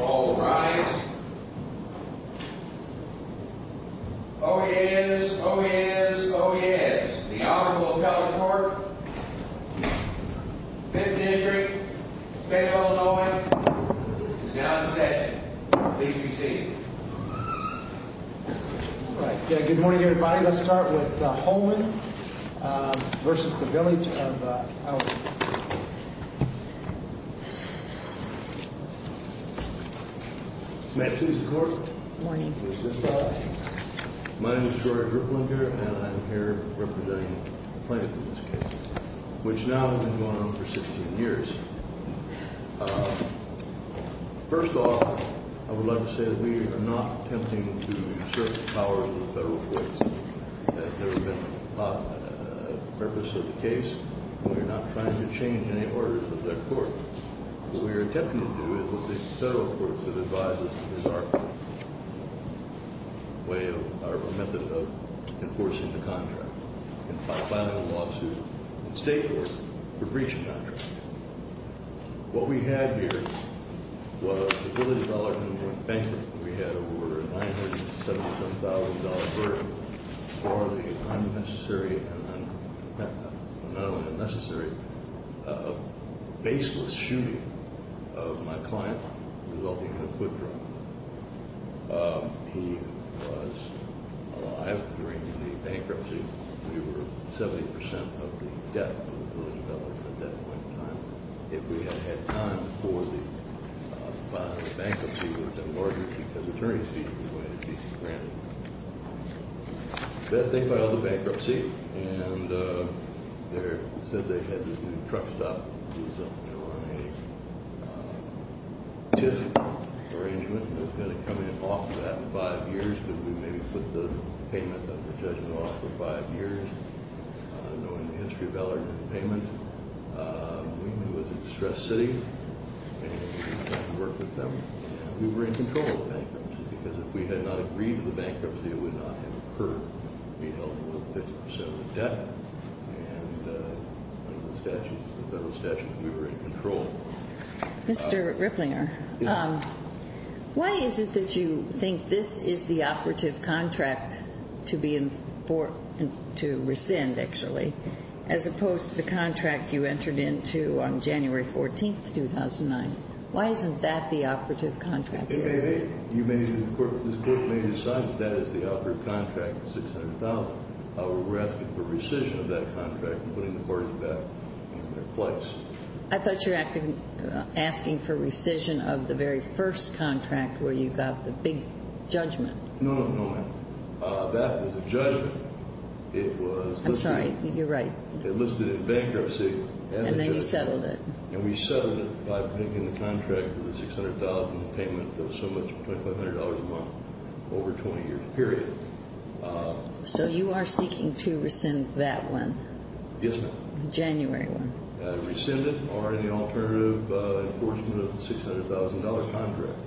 All rise. Oh yes, oh yes, oh yes. The Honorable Appellate Court, 5th District, Fayetteville, Illinois, is now in session. Please be seated. All right. Good morning, everybody. Let's start with the Holmon v. Village of Alorton. May it please the Court. Good morning. My name is Jory Ripling here, and I'm here representing the Fayetteville case, which now has been going on for 16 years. First off, I would like to say that we are not attempting to assert the powers of the federal courts. That has never been the purpose of the case, and we are not trying to change any orders of that court. What we are attempting to do is, with the federal courts that advise us, is our method of enforcing the contract, and filing a lawsuit in state court for breach of contract. What we had here was the Village of Alorton went bankrupt. We had over a $977,000 burden for the unnecessary, and not only unnecessary, baseless shooting of my client, resulting in a foot drop. He was alive during the bankruptcy. We were 70% of the debt to the Village of Alorton at that point in time. If we had had time for the filing of bankruptcy, it would have been larger because attorney fees were going to be granted. They filed the bankruptcy, and they said they had this new truck stop. It was a tip arrangement, and it was going to come in off of that in five years, because we maybe put the payment of the judgment off for five years. Knowing the history of Alorton and the payment, we knew it was a distressed city, and we had to work with them. We were in control of the bankruptcy, because if we had not agreed to the bankruptcy, it would not have occurred. We held over 50% of the debt, and under the federal statutes, we were in control. Mr. Ripplinger, why is it that you think this is the operative contract to rescind, actually, as opposed to the contract you entered into on January 14, 2009? Why isn't that the operative contract? This Court may decide that that is the operative contract, the $600,000. We're asking for rescission of that contract and putting the parties back in their place. I thought you were asking for rescission of the very first contract where you got the big judgment. No, no, no, ma'am. That was a judgment. I'm sorry. You're right. It listed in bankruptcy. And then you settled it. And we settled it by making the contract with the $600,000 payment of so much, $2,500 a month, over a 20-year period. So you are seeking to rescind that one? Yes, ma'am. The January one. Rescind it or any alternative enforcement of the $600,000 contract.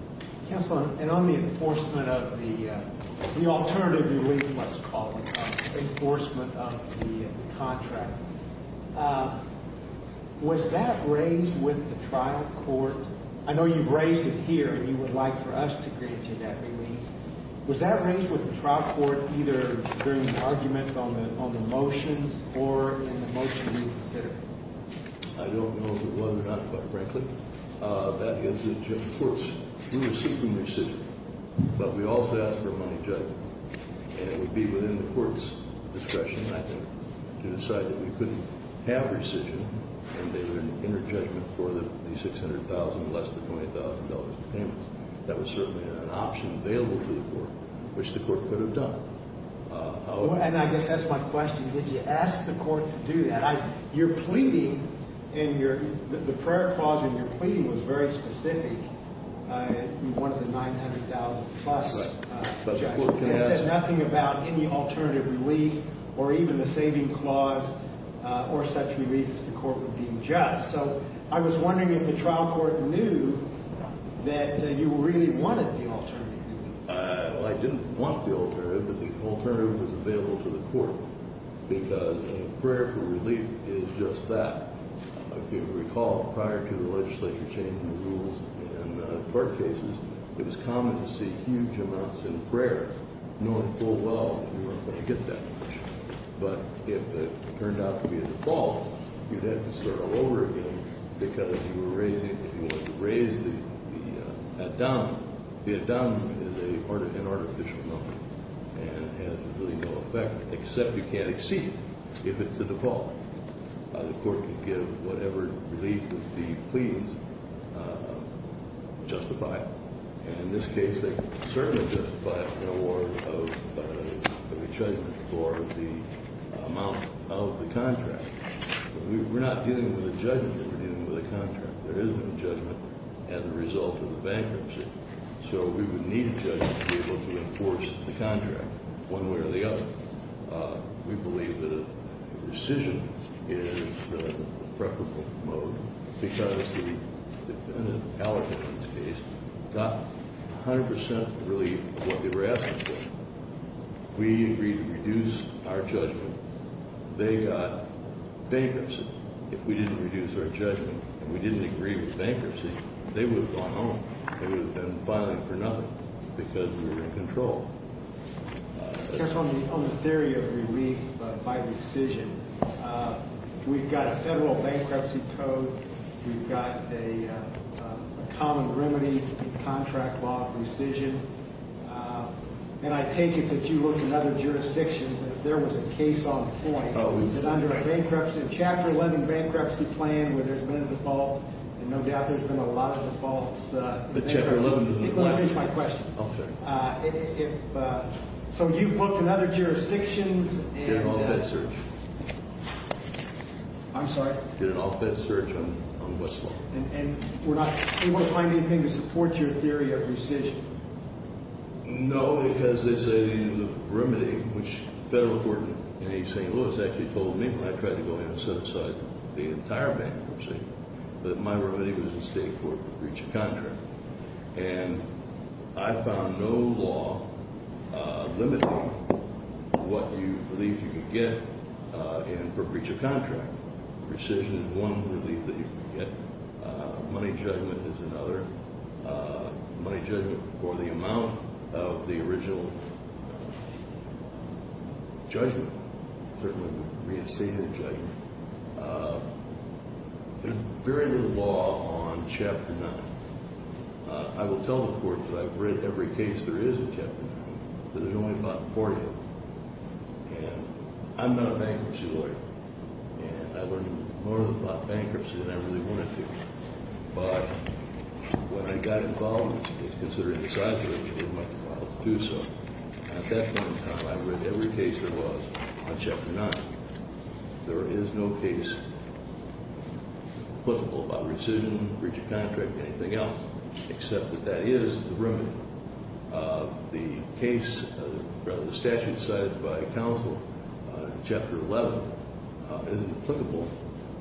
Counselor, and on the enforcement of the alternative relief, let's call it, enforcement of the contract, was that raised with the trial court? I know you've raised it here and you would like for us to grant you that relief. Was that raised with the trial court either during the argument on the motions or in the motion you considered? I don't know if it was or not, quite frankly. That is the judgment of the courts. We were seeking rescission, but we also asked for a money judgment. And it would be within the court's discretion, I think, to decide that we couldn't have rescission and there would be an inner judgment for the $600,000 less than $20,000 of payment. That was certainly an option available to the court, which the court could have done. And I guess that's my question. Did you ask the court to do that? Your pleading in your – the prior clause in your pleading was very specific. You wanted the $900,000 plus. But the court can ask. It said nothing about any alternative relief or even the saving clause or such relief if the court were being just. So I was wondering if the trial court knew that you really wanted the alternative. I didn't want the alternative, but the alternative was available to the court because a prayer for relief is just that. If you recall, prior to the legislature changing the rules in court cases, it was common to see huge amounts in prayer knowing full well you weren't going to get that. But if it turned out to be a default, you'd have to start all over again because if you were raising – if you wanted to raise the ad-dominant, the ad-dominant is an artificial number and has really no effect except you can't exceed it if it's a default. The court could give whatever relief of the pleadings justified. And in this case, they certainly justified an award of a judgment for the amount of the contract. But we're not dealing with a judgment. We're dealing with a contract. There isn't a judgment as a result of the bankruptcy. So we would need a judgment to be able to enforce the contract one way or the other. We believe that a rescission is the preferable mode because the defendant, Allerton in this case, got 100 percent of really what they were asking for. We agreed to reduce our judgment. They got bankruptcy. If we didn't reduce our judgment and we didn't agree with bankruptcy, they would have gone home. They would have been filing for nothing because we were in control. Just on the theory of relief by rescission, we've got a federal bankruptcy code. We've got a common remedy in contract law rescission. And I take it that you looked in other jurisdictions and if there was a case on point, that under a bankruptcy, a Chapter 11 bankruptcy plan where there's been a default, and no doubt there's been a lot of defaults. But Chapter 11 was the last one. Let me finish my question. Okay. So you've looked in other jurisdictions. Did an off-bed search. I'm sorry? Did an off-bed search on Westlaw. And we're not able to find anything to support your theory of rescission? No, because they say the remedy, which the federal court in St. Louis actually told me when I tried to go in and set aside the entire bankruptcy, that my remedy was to stay for breach of contract. And I found no law limiting what relief you could get for breach of contract. Rescission is one relief that you could get. Money judgment is another. Money judgment for the amount of the original judgment, certainly the re-inceded judgment. There's very little law on Chapter 9. I will tell the court that I've read every case there is of Chapter 9. There's only about 40 of them. And I'm not a bankruptcy lawyer. And I learned more about bankruptcy than I really wanted to. But when I got involved, it was considered an exaggeration of my power to do so. And at that point in time, I read every case there was on Chapter 9. There is no case applicable about rescission, breach of contract, anything else, except that that is the remedy. The case, rather the statute cited by counsel in Chapter 11, isn't applicable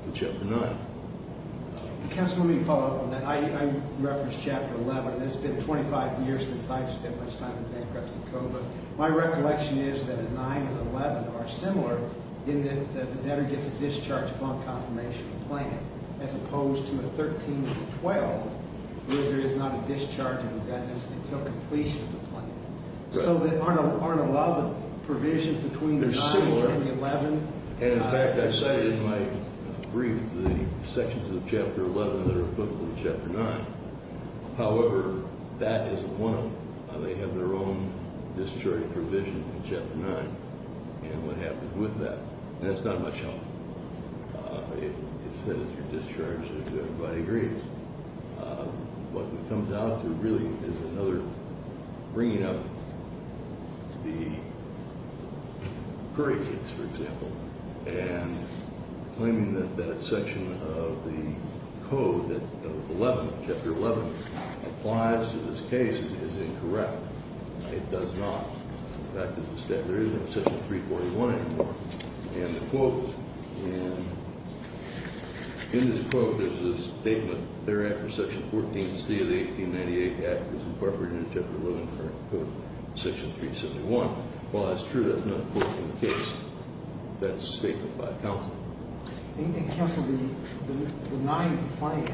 to Chapter 9. Counselor, let me follow up on that. I referenced Chapter 11. It's been 25 years since I spent much time in bankruptcy court. My recollection is that 9 and 11 are similar in that the debtor gets a discharge upon confirmation of the plan, as opposed to a 13 and a 12 where there is not a discharge until completion of the plan. So there aren't a lot of provisions between the 9 and the 11. And, in fact, I cited in my brief the sections of Chapter 11 that are applicable to Chapter 9. However, that isn't one of them. They have their own discharging provision in Chapter 9. And what happens with that? That's not much help. It says you're discharged if everybody agrees. What it comes down to really is another bringing up the grades, for example, and claiming that that section of the code that 11, Chapter 11, applies to this case is incorrect. It does not. In fact, as a statute, there isn't a Section 341 anymore in the quote. And in this quote, there's this statement thereafter, Section 14C of the 1898 Act, as incorporated in Chapter 11, Section 371. Well, that's true. That's not a quote from the case. That's a statement by counsel. I think, counsel, the 9 plan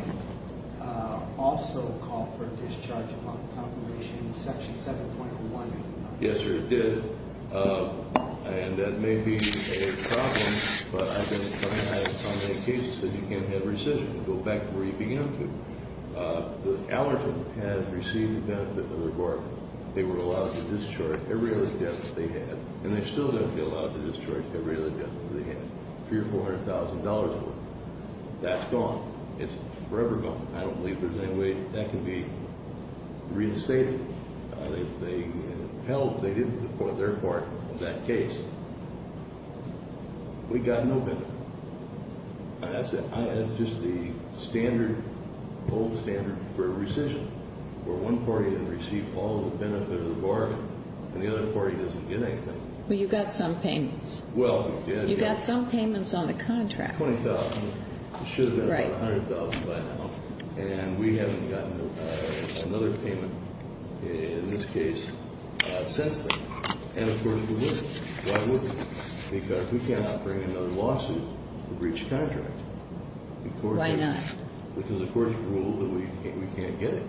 also called for a discharge upon completion in Section 7.1. Yes, sir, it did. And that may be a problem, but I've been coming at it on many cases that you can't have rescission. You go back to where you began to. The allergen had received the benefit of the reward. They were allowed to discharge every other deficit they had, and they're still going to be allowed to discharge every other deficit they had, $300,000 or $400,000 worth. That's gone. It's forever gone. I don't believe there's any way that can be reinstated. They helped. They did it for their part in that case. We got no benefit. That's just the standard, old standard for rescission, where one party didn't receive all the benefit of the bargain, and the other party doesn't get anything. Well, you got some payments. Well, we did. You got some payments on the contract. $20,000. It should have been about $100,000 by now, and we haven't gotten another payment in this case since then. And, of course, we would. Why would we? Because we cannot bring another lawsuit to breach a contract. Why not? Because the courts ruled that we can't get it.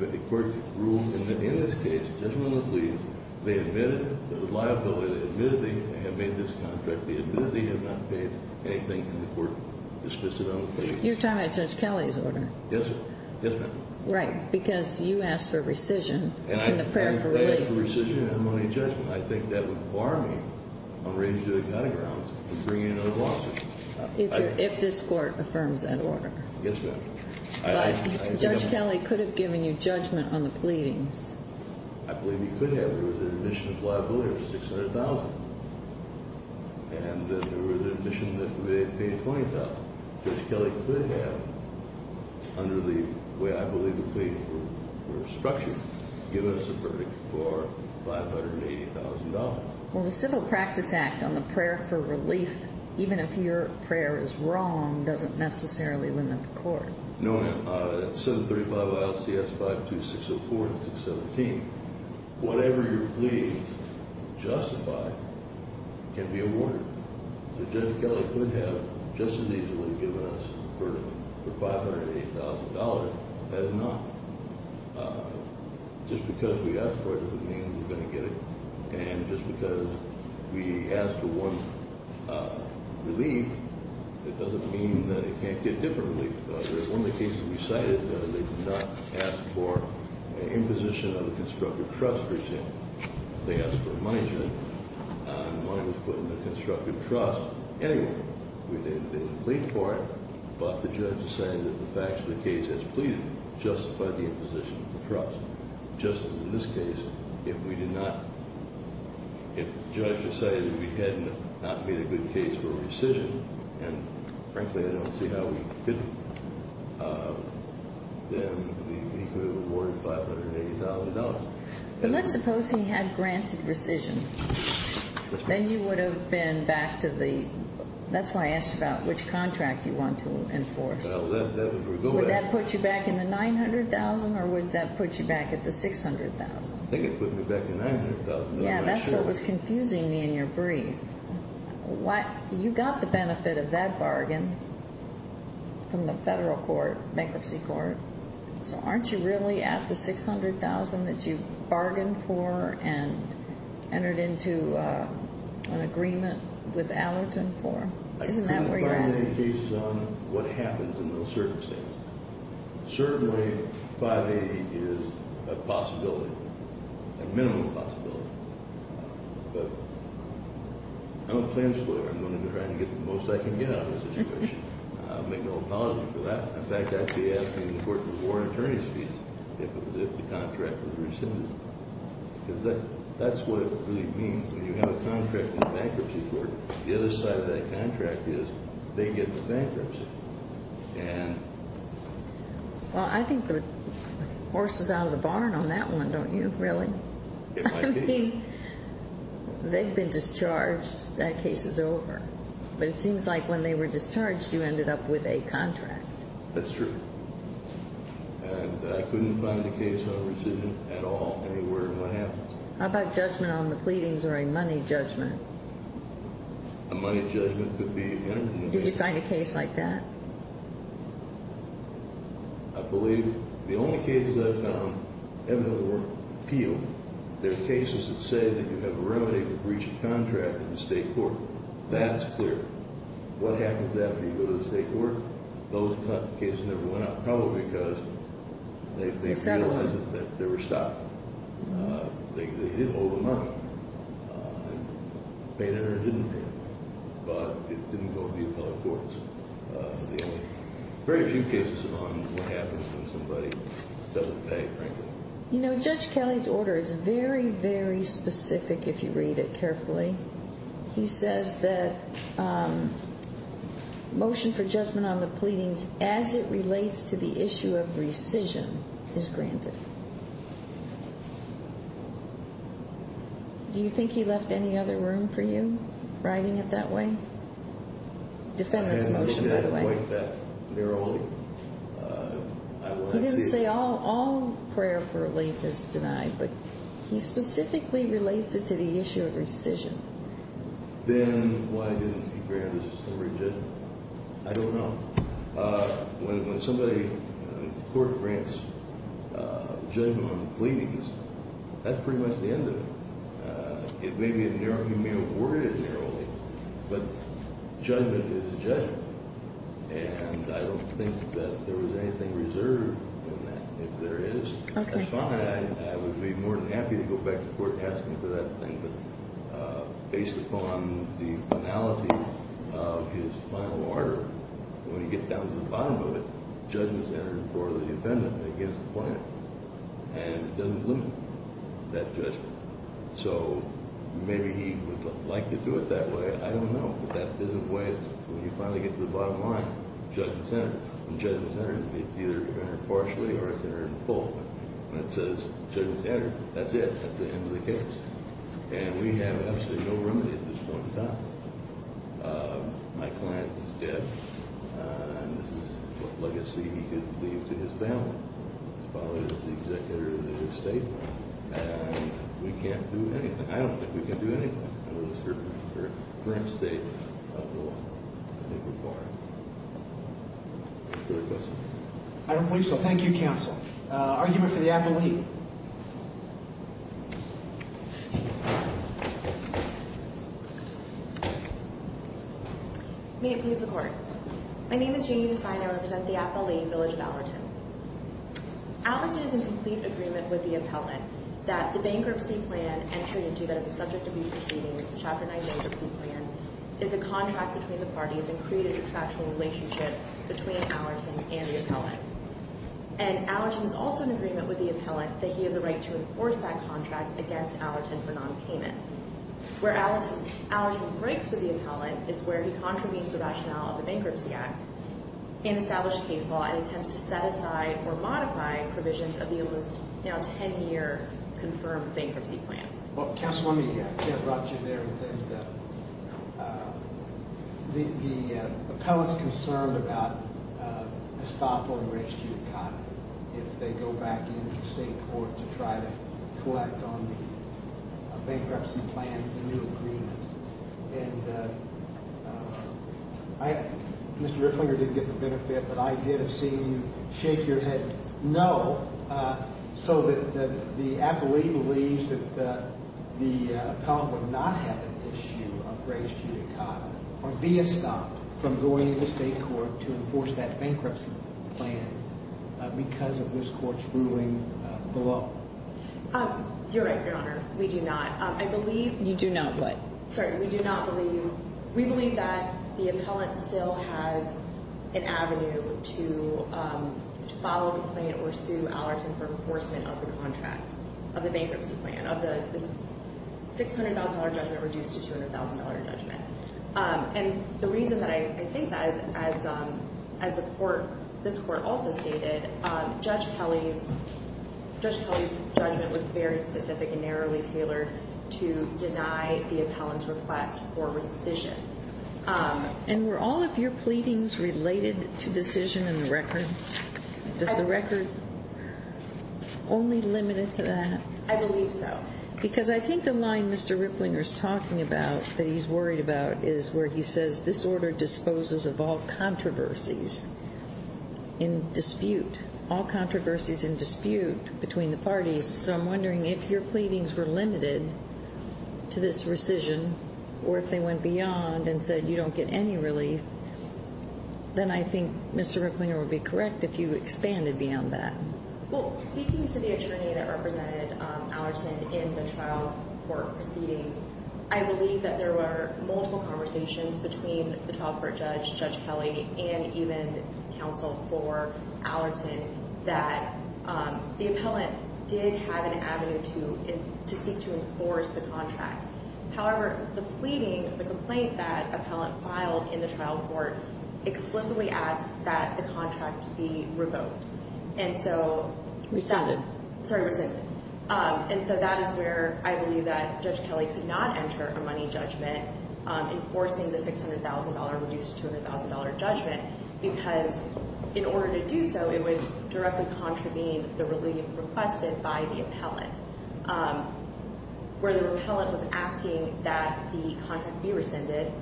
The courts ruled that in this case, judgmentally, they admitted it. There was liability. They admitted they had made this contract. They admitted they had not paid anything, and the court dismissed it on the case. You're talking about Judge Kelly's order. Yes, ma'am. Yes, ma'am. Right, because you asked for rescission in the prayer for relief. I didn't ask for rescission, and I'm not in judgment. I think that would bar me from raising to the cutting ground and bringing another lawsuit. If this court affirms that order. Yes, ma'am. But Judge Kelly could have given you judgment on the pleadings. I believe he could have. There was an admission of liability of $600,000, and there was an admission that they had paid $20,000. Judge Kelly could have, under the way I believe the pleadings were structured, given us a verdict for $580,000. Well, the Civil Practice Act on the prayer for relief, even if your prayer is wrong, doesn't necessarily limit the court. No, ma'am. It's 735 YLCS 52604 and 617. Whatever your pleadings justify can be awarded. Judge Kelly could have just as easily given us a verdict for $580,000 as not. Just because we asked for it doesn't mean we're going to get it. And just because we asked for one relief, it doesn't mean that it can't get different relief. One of the cases we cited, they did not ask for an imposition of a constructive trust, for example. They asked for a money shift, and money was put in the constructive trust anyway. They didn't plead for it, but the judge decided that the facts of the case as pleaded justified the imposition of the trust. Just as in this case, if we did not, if the judge decided that we had not made a good case for rescission, and frankly I don't see how we could, then he could have awarded $580,000. But let's suppose he had granted rescission. Then you would have been back to the, that's why I asked about which contract you want to enforce. Would that put you back in the $900,000 or would that put you back at the $600,000? I think it would put me back at the $900,000. Yeah, that's what was confusing me in your brief. You got the benefit of that bargain from the federal court, bankruptcy court. So aren't you really at the $600,000 that you bargained for and entered into an agreement with Allentown for? Isn't that where you're at? I can't find any cases on what happens in those circumstances. Certainly $580,000 is a possibility, a minimum possibility. But I'm a plan explorer. I'm going to try to get the most I can get out of the situation. I'll make no apology for that. In fact, I'd be asking the court to award attorney's fees if the contract was rescinded. Because that's what it really means. When you have a contract in the bankruptcy court, the other side of that contract is they get the bankruptcy. And... Well, I think the horse is out of the barn on that one, don't you, really? It might be. I mean, they've been discharged. That case is over. But it seems like when they were discharged, you ended up with a contract. That's true. And I couldn't find a case on rescission at all anywhere in what happens. How about judgment on the pleadings or a money judgment? A money judgment could be entered in the case. Did you find a case like that? I believe the only cases I've found evident were appealed. There are cases that say that you have a remedy to breach a contract in the state court. That's clear. What happens after you go to the state court? Those cases never went up, probably because they realized that they were stopped. They didn't hold them up. They didn't pay them. But it didn't go to the appellate courts. There are very few cases on what happens when somebody doesn't pay, frankly. You know, Judge Kelly's order is very, very specific if you read it carefully. He says that motion for judgment on the pleadings as it relates to the issue of rescission is granted. Do you think he left any other room for you, writing it that way? Defendant's motion, by the way. I didn't write that. They're all— He didn't say all prayer for relief is denied. He specifically relates it to the issue of rescission. Then why didn't he grant it as a summary judgment? I don't know. When somebody in court grants judgment on the pleadings, that's pretty much the end of it. It may be a narrow—you may have worded it narrowly, but judgment is judgment. And I don't think that there was anything reserved in that. If there is, that's fine. I would be more than happy to go back to court and ask him for that thing. But based upon the finality of his final order, when you get down to the bottom of it, judgment's entered for the defendant against the plaintiff, and it doesn't limit that judgment. So maybe he would like to do it that way. I don't know. But that isn't the way it's—when you finally get to the bottom line, judgment's entered. It's either entered partially or it's entered in full. When it says judgment's entered, that's it. That's the end of the case. And we have absolutely no remedy at this point in time. My client is dead, and this is what legacy he could leave to his family. His father is the executor of the estate, and we can't do anything. I don't think we can do anything under the current state of the law. I think we're barred. Further questions? I don't believe so. Thank you, counsel. Argument for the appellee. May it please the Court. My name is Jamie Desai, and I represent the appellee, Village of Alberton. Alberton is in complete agreement with the appellant that the bankruptcy plan and Trinity, that is a subject of these proceedings, Chapter 9 bankruptcy plan, is a contract between the parties and created a contractual relationship between Alerton and the appellant. And Alerton is also in agreement with the appellant that he has a right to enforce that contract against Alerton for nonpayment. Where Alerton breaks with the appellant is where he contravenes the rationale of the Bankruptcy Act in established case law and attempts to set aside or modify provisions of the almost now 10-year confirmed bankruptcy plan. Well, counsel, let me get about you there. The appellant's concerned about Estoppo and Richtie and Cotton if they go back into the state court to try to collect on the bankruptcy plan, the new agreement. And Mr. Ricklinger didn't get the benefit, but I did have seen you shake your head no, so that the appellee believes that the appellant would not have an issue of race, gender, and color or be estopped from going into state court to enforce that bankruptcy plan because of this court's ruling below. You're right, Your Honor. We do not. You do not what? Sorry, we do not believe. We believe that the appellant still has an avenue to follow the plan or sue Alerton for enforcement of the contract, of the bankruptcy plan, of this $600,000 judgment reduced to $200,000 judgment. And the reason that I say that is, as the court, this court also stated, Judge Pelley's judgment was very specific and narrowly tailored to deny the appellant's request for rescission. And were all of your pleadings related to decision in the record? Does the record only limit it to that? I believe so. Because I think the line Mr. Ricklinger's talking about, that he's worried about, is where he says, this order disposes of all controversies in dispute, all controversies in dispute between the parties. So I'm wondering if your pleadings were limited to this rescission or if they went beyond and said you don't get any relief, then I think Mr. Ricklinger would be correct if you expanded beyond that. Well, speaking to the attorney that represented Alerton in the trial court proceedings, I believe that there were multiple conversations between the trial court judge, Judge Pelley, and even counsel for Alerton that the appellant did have an avenue to seek to enforce the contract. However, the pleading, the complaint that the appellant filed in the trial court, explicitly asked that the contract be revoked. And so, Rescinded. Sorry, rescinded. And so that is where I believe that Judge Pelley could not enter a money judgment enforcing the $600,000 reduced to $200,000 judgment, because in order to do so, it would directly contravene the relief requested by the appellant. Where the appellant was asking that the contract be rescinded,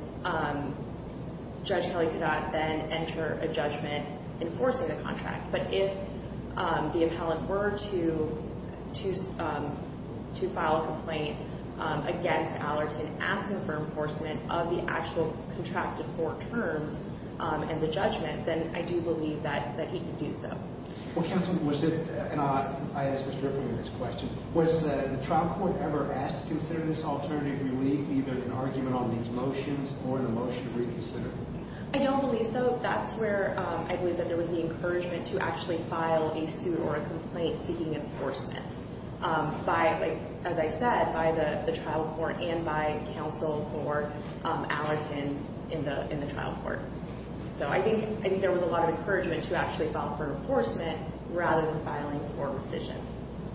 Judge Pelley could not then enter a judgment enforcing the contract. But if the appellant were to file a complaint against Alerton, asking for enforcement of the actual contracted court terms and the judgment, then I do believe that he could do so. Well, counsel, was it, and I asked Mr. Ricklinger this question, was the trial court ever asked to consider this alternative relief, either an argument on these motions or a motion to reconsider? I don't believe so. So that's where I believe that there was the encouragement to actually file a suit or a complaint seeking enforcement, as I said, by the trial court and by counsel for Alerton in the trial court. So I think there was a lot of encouragement to actually file for enforcement rather than filing for rescission.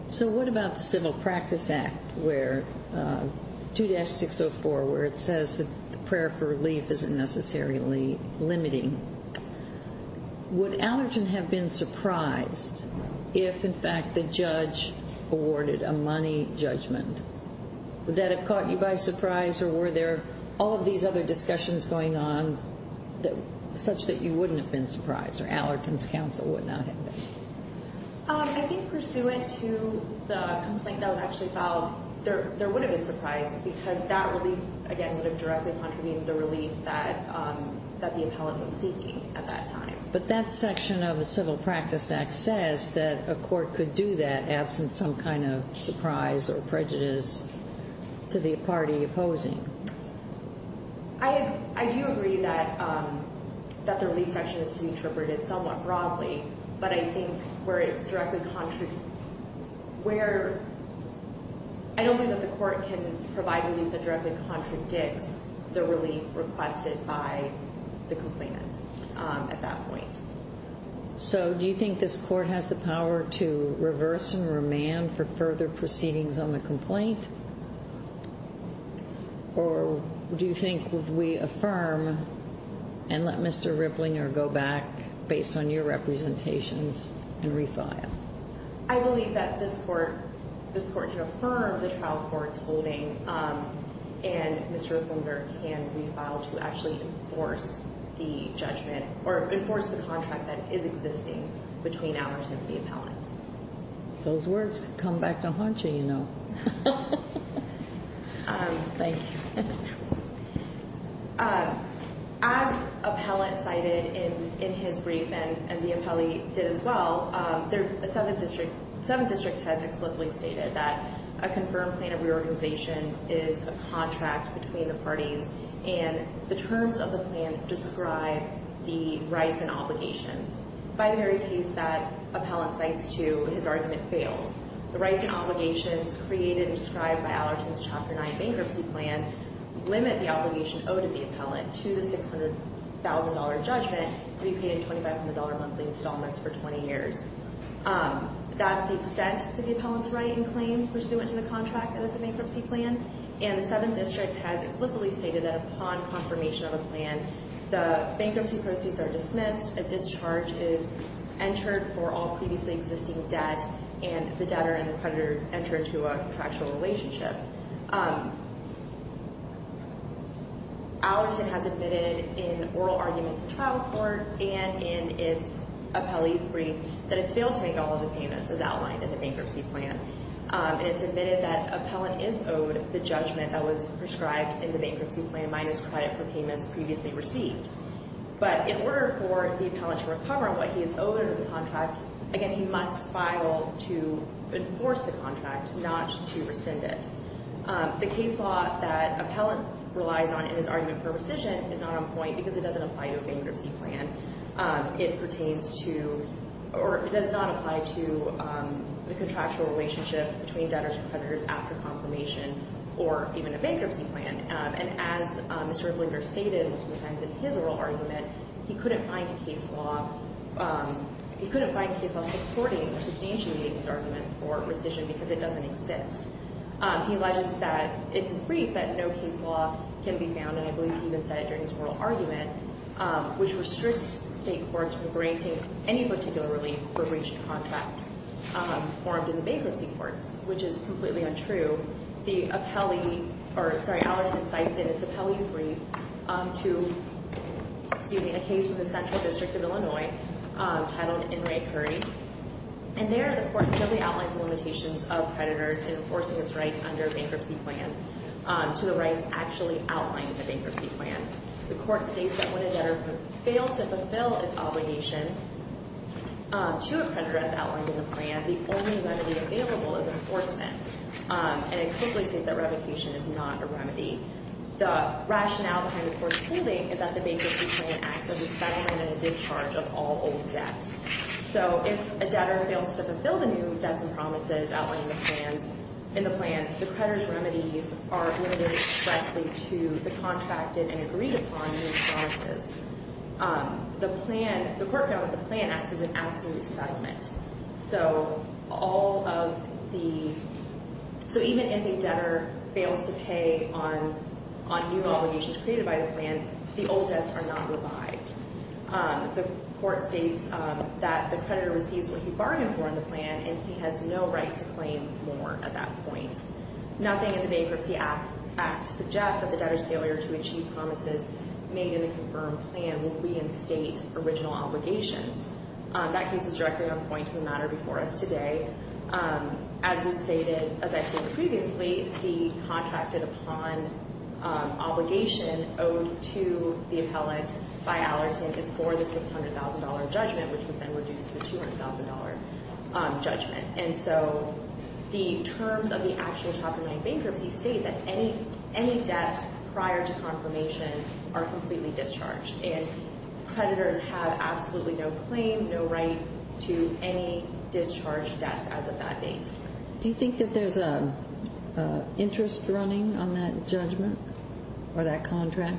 So what about the Civil Practice Act, 2-604, where it says that the prayer for relief isn't necessarily limiting. Would Alerton have been surprised if, in fact, the judge awarded a money judgment? Would that have caught you by surprise, or were there all of these other discussions going on such that you wouldn't have been surprised or Alerton's counsel would not have been? I think pursuant to the complaint that was actually filed, there would have been surprise because that relief, again, would have directly contravened the relief that the appellant was seeking at that time. But that section of the Civil Practice Act says that a court could do that absent some kind of surprise or prejudice to the party opposing. I do agree that the relief section is to be interpreted somewhat broadly, but I don't think that the court can provide relief that directly contradicts the relief requested by the complainant at that point. So do you think this court has the power to reverse and remand for further proceedings on the complaint? Or do you think we affirm and let Mr. Ripplinger go back based on your representations and refile? I believe that this court can affirm the trial court's holding, and Mr. Ripplinger can refile to actually enforce the judgment or enforce the contract that is existing between Alerton and the appellant. Those words could come back to haunt you, you know. Thank you. As appellant cited in his brief, and the appellee did as well, the 7th District has explicitly stated that a confirmed plan of reorganization is a contract between the parties, and the terms of the plan describe the rights and obligations. By the very piece that appellant cites, too, his argument fails. The rights and obligations created and described by Alerton's Chapter 9 bankruptcy plan limit the obligation owed to the appellant to the $600,000 judgment to be paid in $2,500 monthly installments for 20 years. That's the extent that the appellant's right in claim pursuant to the contract that is the bankruptcy plan, and the 7th District has explicitly stated that upon confirmation of a plan, the bankruptcy proceeds are dismissed, a discharge is entered for all previously existing debt, and the debtor and the creditor enter into a contractual relationship. Alerton has admitted in oral arguments in trial court and in its appellee's brief that it's failed to make all of the payments as outlined in the bankruptcy plan. And it's admitted that appellant is owed the judgment that was prescribed in the bankruptcy plan minus credit for payments previously received. But in order for the appellant to recover what he is owed under the contract, again, he must file to enforce the contract, not to rescind it. The case law that appellant relies on in his argument for rescission is not on point because it doesn't apply to a bankruptcy plan. It pertains to, or it does not apply to the contractual relationship between debtors and creditors after confirmation or even a bankruptcy plan. And as Mr. Winger stated multiple times in his oral argument, he couldn't find case law supporting or substantiating his arguments for rescission because it doesn't exist. He alleges that in his brief that no case law can be found, and I believe he even said it during his oral argument, which restricts state courts from granting any particular relief for breach of contract formed in the bankruptcy courts, which is completely untrue. The appellee, or sorry, Allerton cites in its appellee's brief to, excuse me, a case from the Central District of Illinois titled In Re Curdie. And there the court really outlines the limitations of creditors in enforcing its rights under a bankruptcy plan to the rights actually outlined in the bankruptcy plan. The court states that when a debtor fails to fulfill its obligation to a creditor, as outlined in the plan, the only remedy available is enforcement. And it explicitly states that revocation is not a remedy. The rationale behind the court's ruling is that the bankruptcy plan acts as a settlement and a discharge of all old debts. So if a debtor fails to fulfill the new debts and promises outlined in the plan, the creditor's remedies are limited expressly to the contracted and agreed upon new promises. The plan, the court found that the plan acts as an absolute settlement. So all of the, so even if a debtor fails to pay on new obligations created by the plan, the old debts are not revived. The court states that the creditor receives what he bargained for in the plan, and he has no right to claim more at that point. Nothing in the Bankruptcy Act suggests that the debtor's failure to achieve promises made in a confirmed plan will reinstate original obligations. That case is directly on point to the matter before us today. As was stated, as I stated previously, the contracted upon obligation owed to the appellant by Allerton is for the $600,000 judgment, which was then reduced to the $200,000 judgment. And so the terms of the actual Chapter 9 bankruptcy state that any debts prior to confirmation are completely discharged, and creditors have absolutely no claim, no right to any discharged debts as of that date. Do you think that there's an interest running on that judgment or that contract?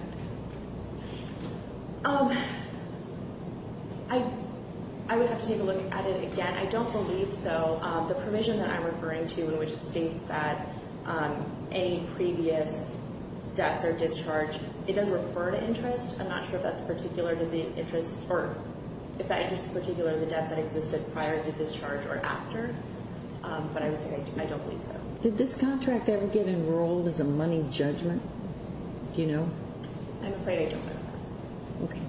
I would have to take a look at it again. I don't believe so. The provision that I'm referring to in which it states that any previous debts are discharged, it does refer to interest. I'm not sure if that's particular to the interest, or if that interest is particular to the debts that existed prior to discharge or after, but I would say I don't believe so. Did this contract ever get enrolled as a money judgment? Do you know? I'm afraid I don't know. Okay.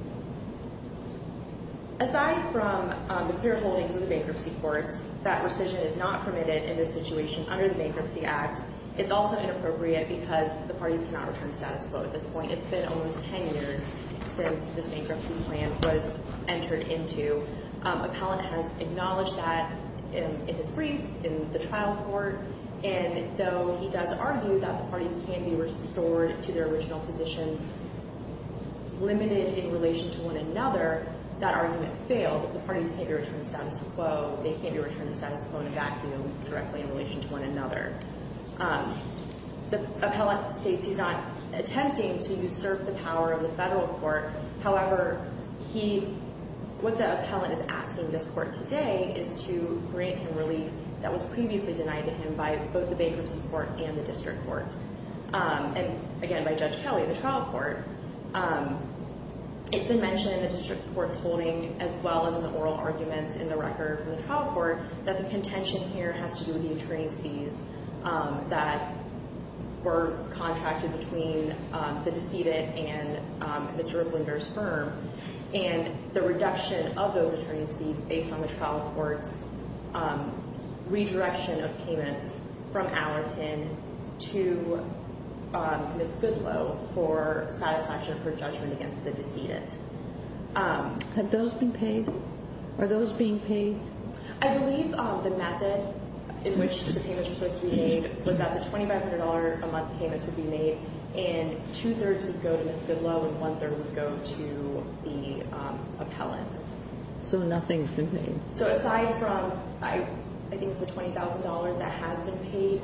Aside from the clear holdings of the bankruptcy courts, that rescission is not permitted in this situation under the Bankruptcy Act. It's also inappropriate because the parties cannot return to status quo at this point. It's been almost 10 years since this bankruptcy plan was entered into. Appellant has acknowledged that in his brief, in the trial court, and though he does argue that the parties can be restored to their original positions, limited in relation to one another, that argument fails. The parties can't be returned to status quo. They can't be returned to status quo in a vacuum directly in relation to one another. The appellant states he's not attempting to usurp the power of the federal court. However, what the appellant is asking this court today is to grant him relief that was previously denied to him by both the bankruptcy court and the district court, and, again, by Judge Kelly, the trial court. It's been mentioned in the district court's holding, as well as in the oral arguments in the record from the trial court, that the contention here has to do with the attorney's fees that were contracted between the decedent and Mr. Ripplinger's firm, and the reduction of those attorney's fees based on the trial court's redirection of payments from Allerton to Ms. Goodloe for satisfaction of her judgment against the decedent. Have those been paid? Are those being paid? I believe the method in which the payments were supposed to be made was that the $2,500 a month payments would be made, and two-thirds would go to Ms. Goodloe, and one-third would go to the appellant. So nothing's been paid? So aside from, I think it's the $20,000 that has been paid,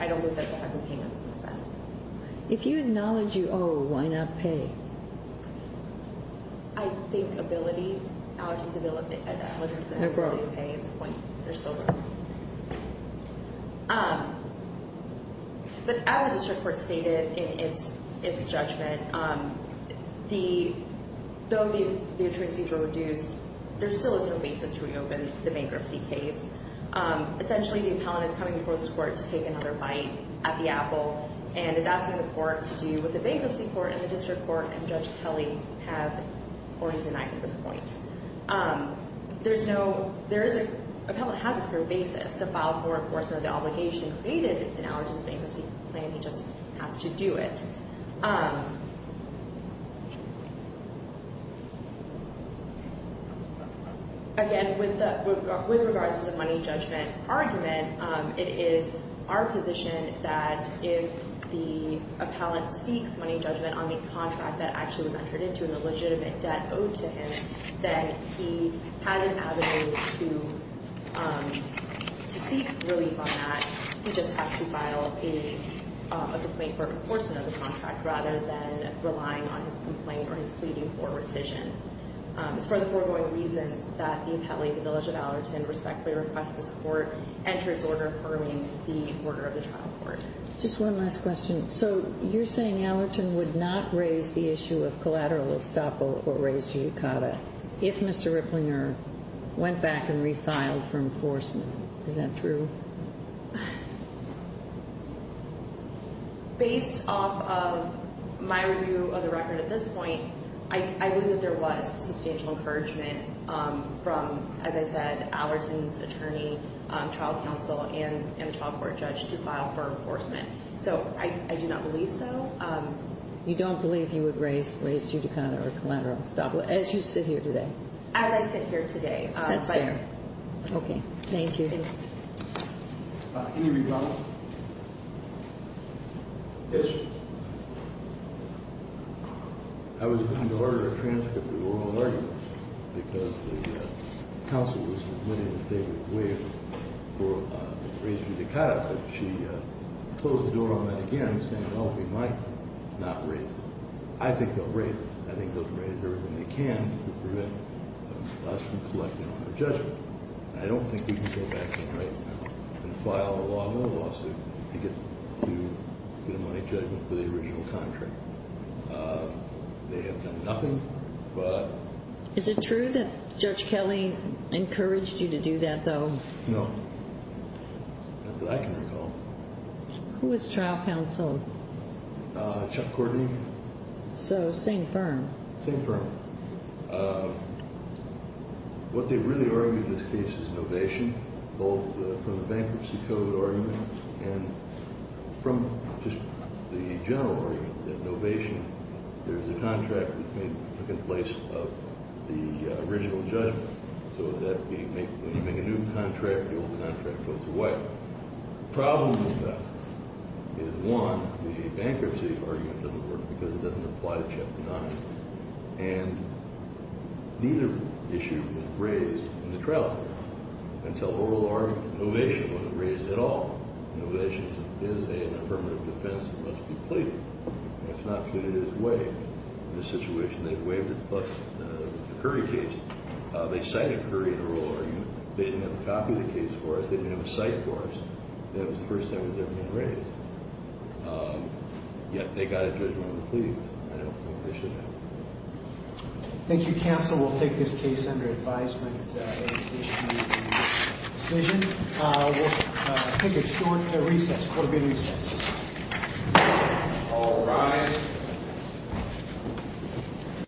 I don't believe that they haven't been paid since then. If you acknowledge you owe, why not pay? I think Allerton's ability to pay at this point. There's still room. But as the district court stated in its judgment, though the attorney's fees were reduced, there still is no basis to reopen the bankruptcy case. Essentially, the appellant is coming before this court to take another bite at the apple and is asking the court to do what the bankruptcy court and the district court and Judge Kelly have already denied at this point. The appellant has a clear basis to file for enforcement of the obligation created in Allerton's bankruptcy plan. He just has to do it. Again, with regards to the money judgment argument, it is our position that if the appellant seeks money judgment on the contract that actually was entered into in the legitimate debt owed to him, that he has an avenue to seek relief on that. He just has to file a complaint for enforcement of the contract rather than relying on his complaint or his pleading for rescission. It's for the foregoing reasons that the appellate, the village of Allerton, respectfully requests this court enter its order firming the order of the trial court. Just one last question. So, you're saying Allerton would not raise the issue of collateral estoppel or raise jucata if Mr. Ripplinger went back and refiled for enforcement. Is that true? Based off of my review of the record at this point, I believe that there was substantial encouragement from, as I said, Allerton's attorney, trial counsel, and a trial court judge to file for enforcement. So, I do not believe so. You don't believe he would raise jucata or collateral estoppel as you sit here today? As I sit here today. That's fair. Okay. Thank you. Thank you. Any rebuttals? Yes, Your Honor. I was looking to order a transcript of oral arguments because the counsel was admitting that they would raise jucata. But she closed the door on that again, saying, well, we might not raise it. I think they'll raise it. I think they'll raise everything they can to prevent us from collecting on our judgment. I don't think we can go back in right now and file a lawful lawsuit to get a money judgment for the original contract. They have done nothing but ---- No. Not that I can recall. Who is trial counsel? Chuck Courtney. So, same firm? Same firm. What they really argued in this case is an ovation, both from the bankruptcy code argument and from just the general argument, there's a contract that took place of the original judgment. So that when you make a new contract, the old contract goes to white. The problem with that is, one, the bankruptcy argument doesn't work because it doesn't apply to Chapter 9. And neither issue was raised in the trial until oral argument. Ovation wasn't raised at all. Ovation is an affirmative defense that must be pleaded. That's not good. It is waived. In this situation, they waived it, plus the Curry case. They cited Curry in the oral argument. They didn't have a copy of the case for us. They didn't have a cite for us. That was the first time it had ever been raised. Yet, they got a judgment on the pleading. I don't think they should have. Thank you, counsel. We'll take this case under advisement as issued in the decision. We'll take a short recess, a quarterly recess. All rise.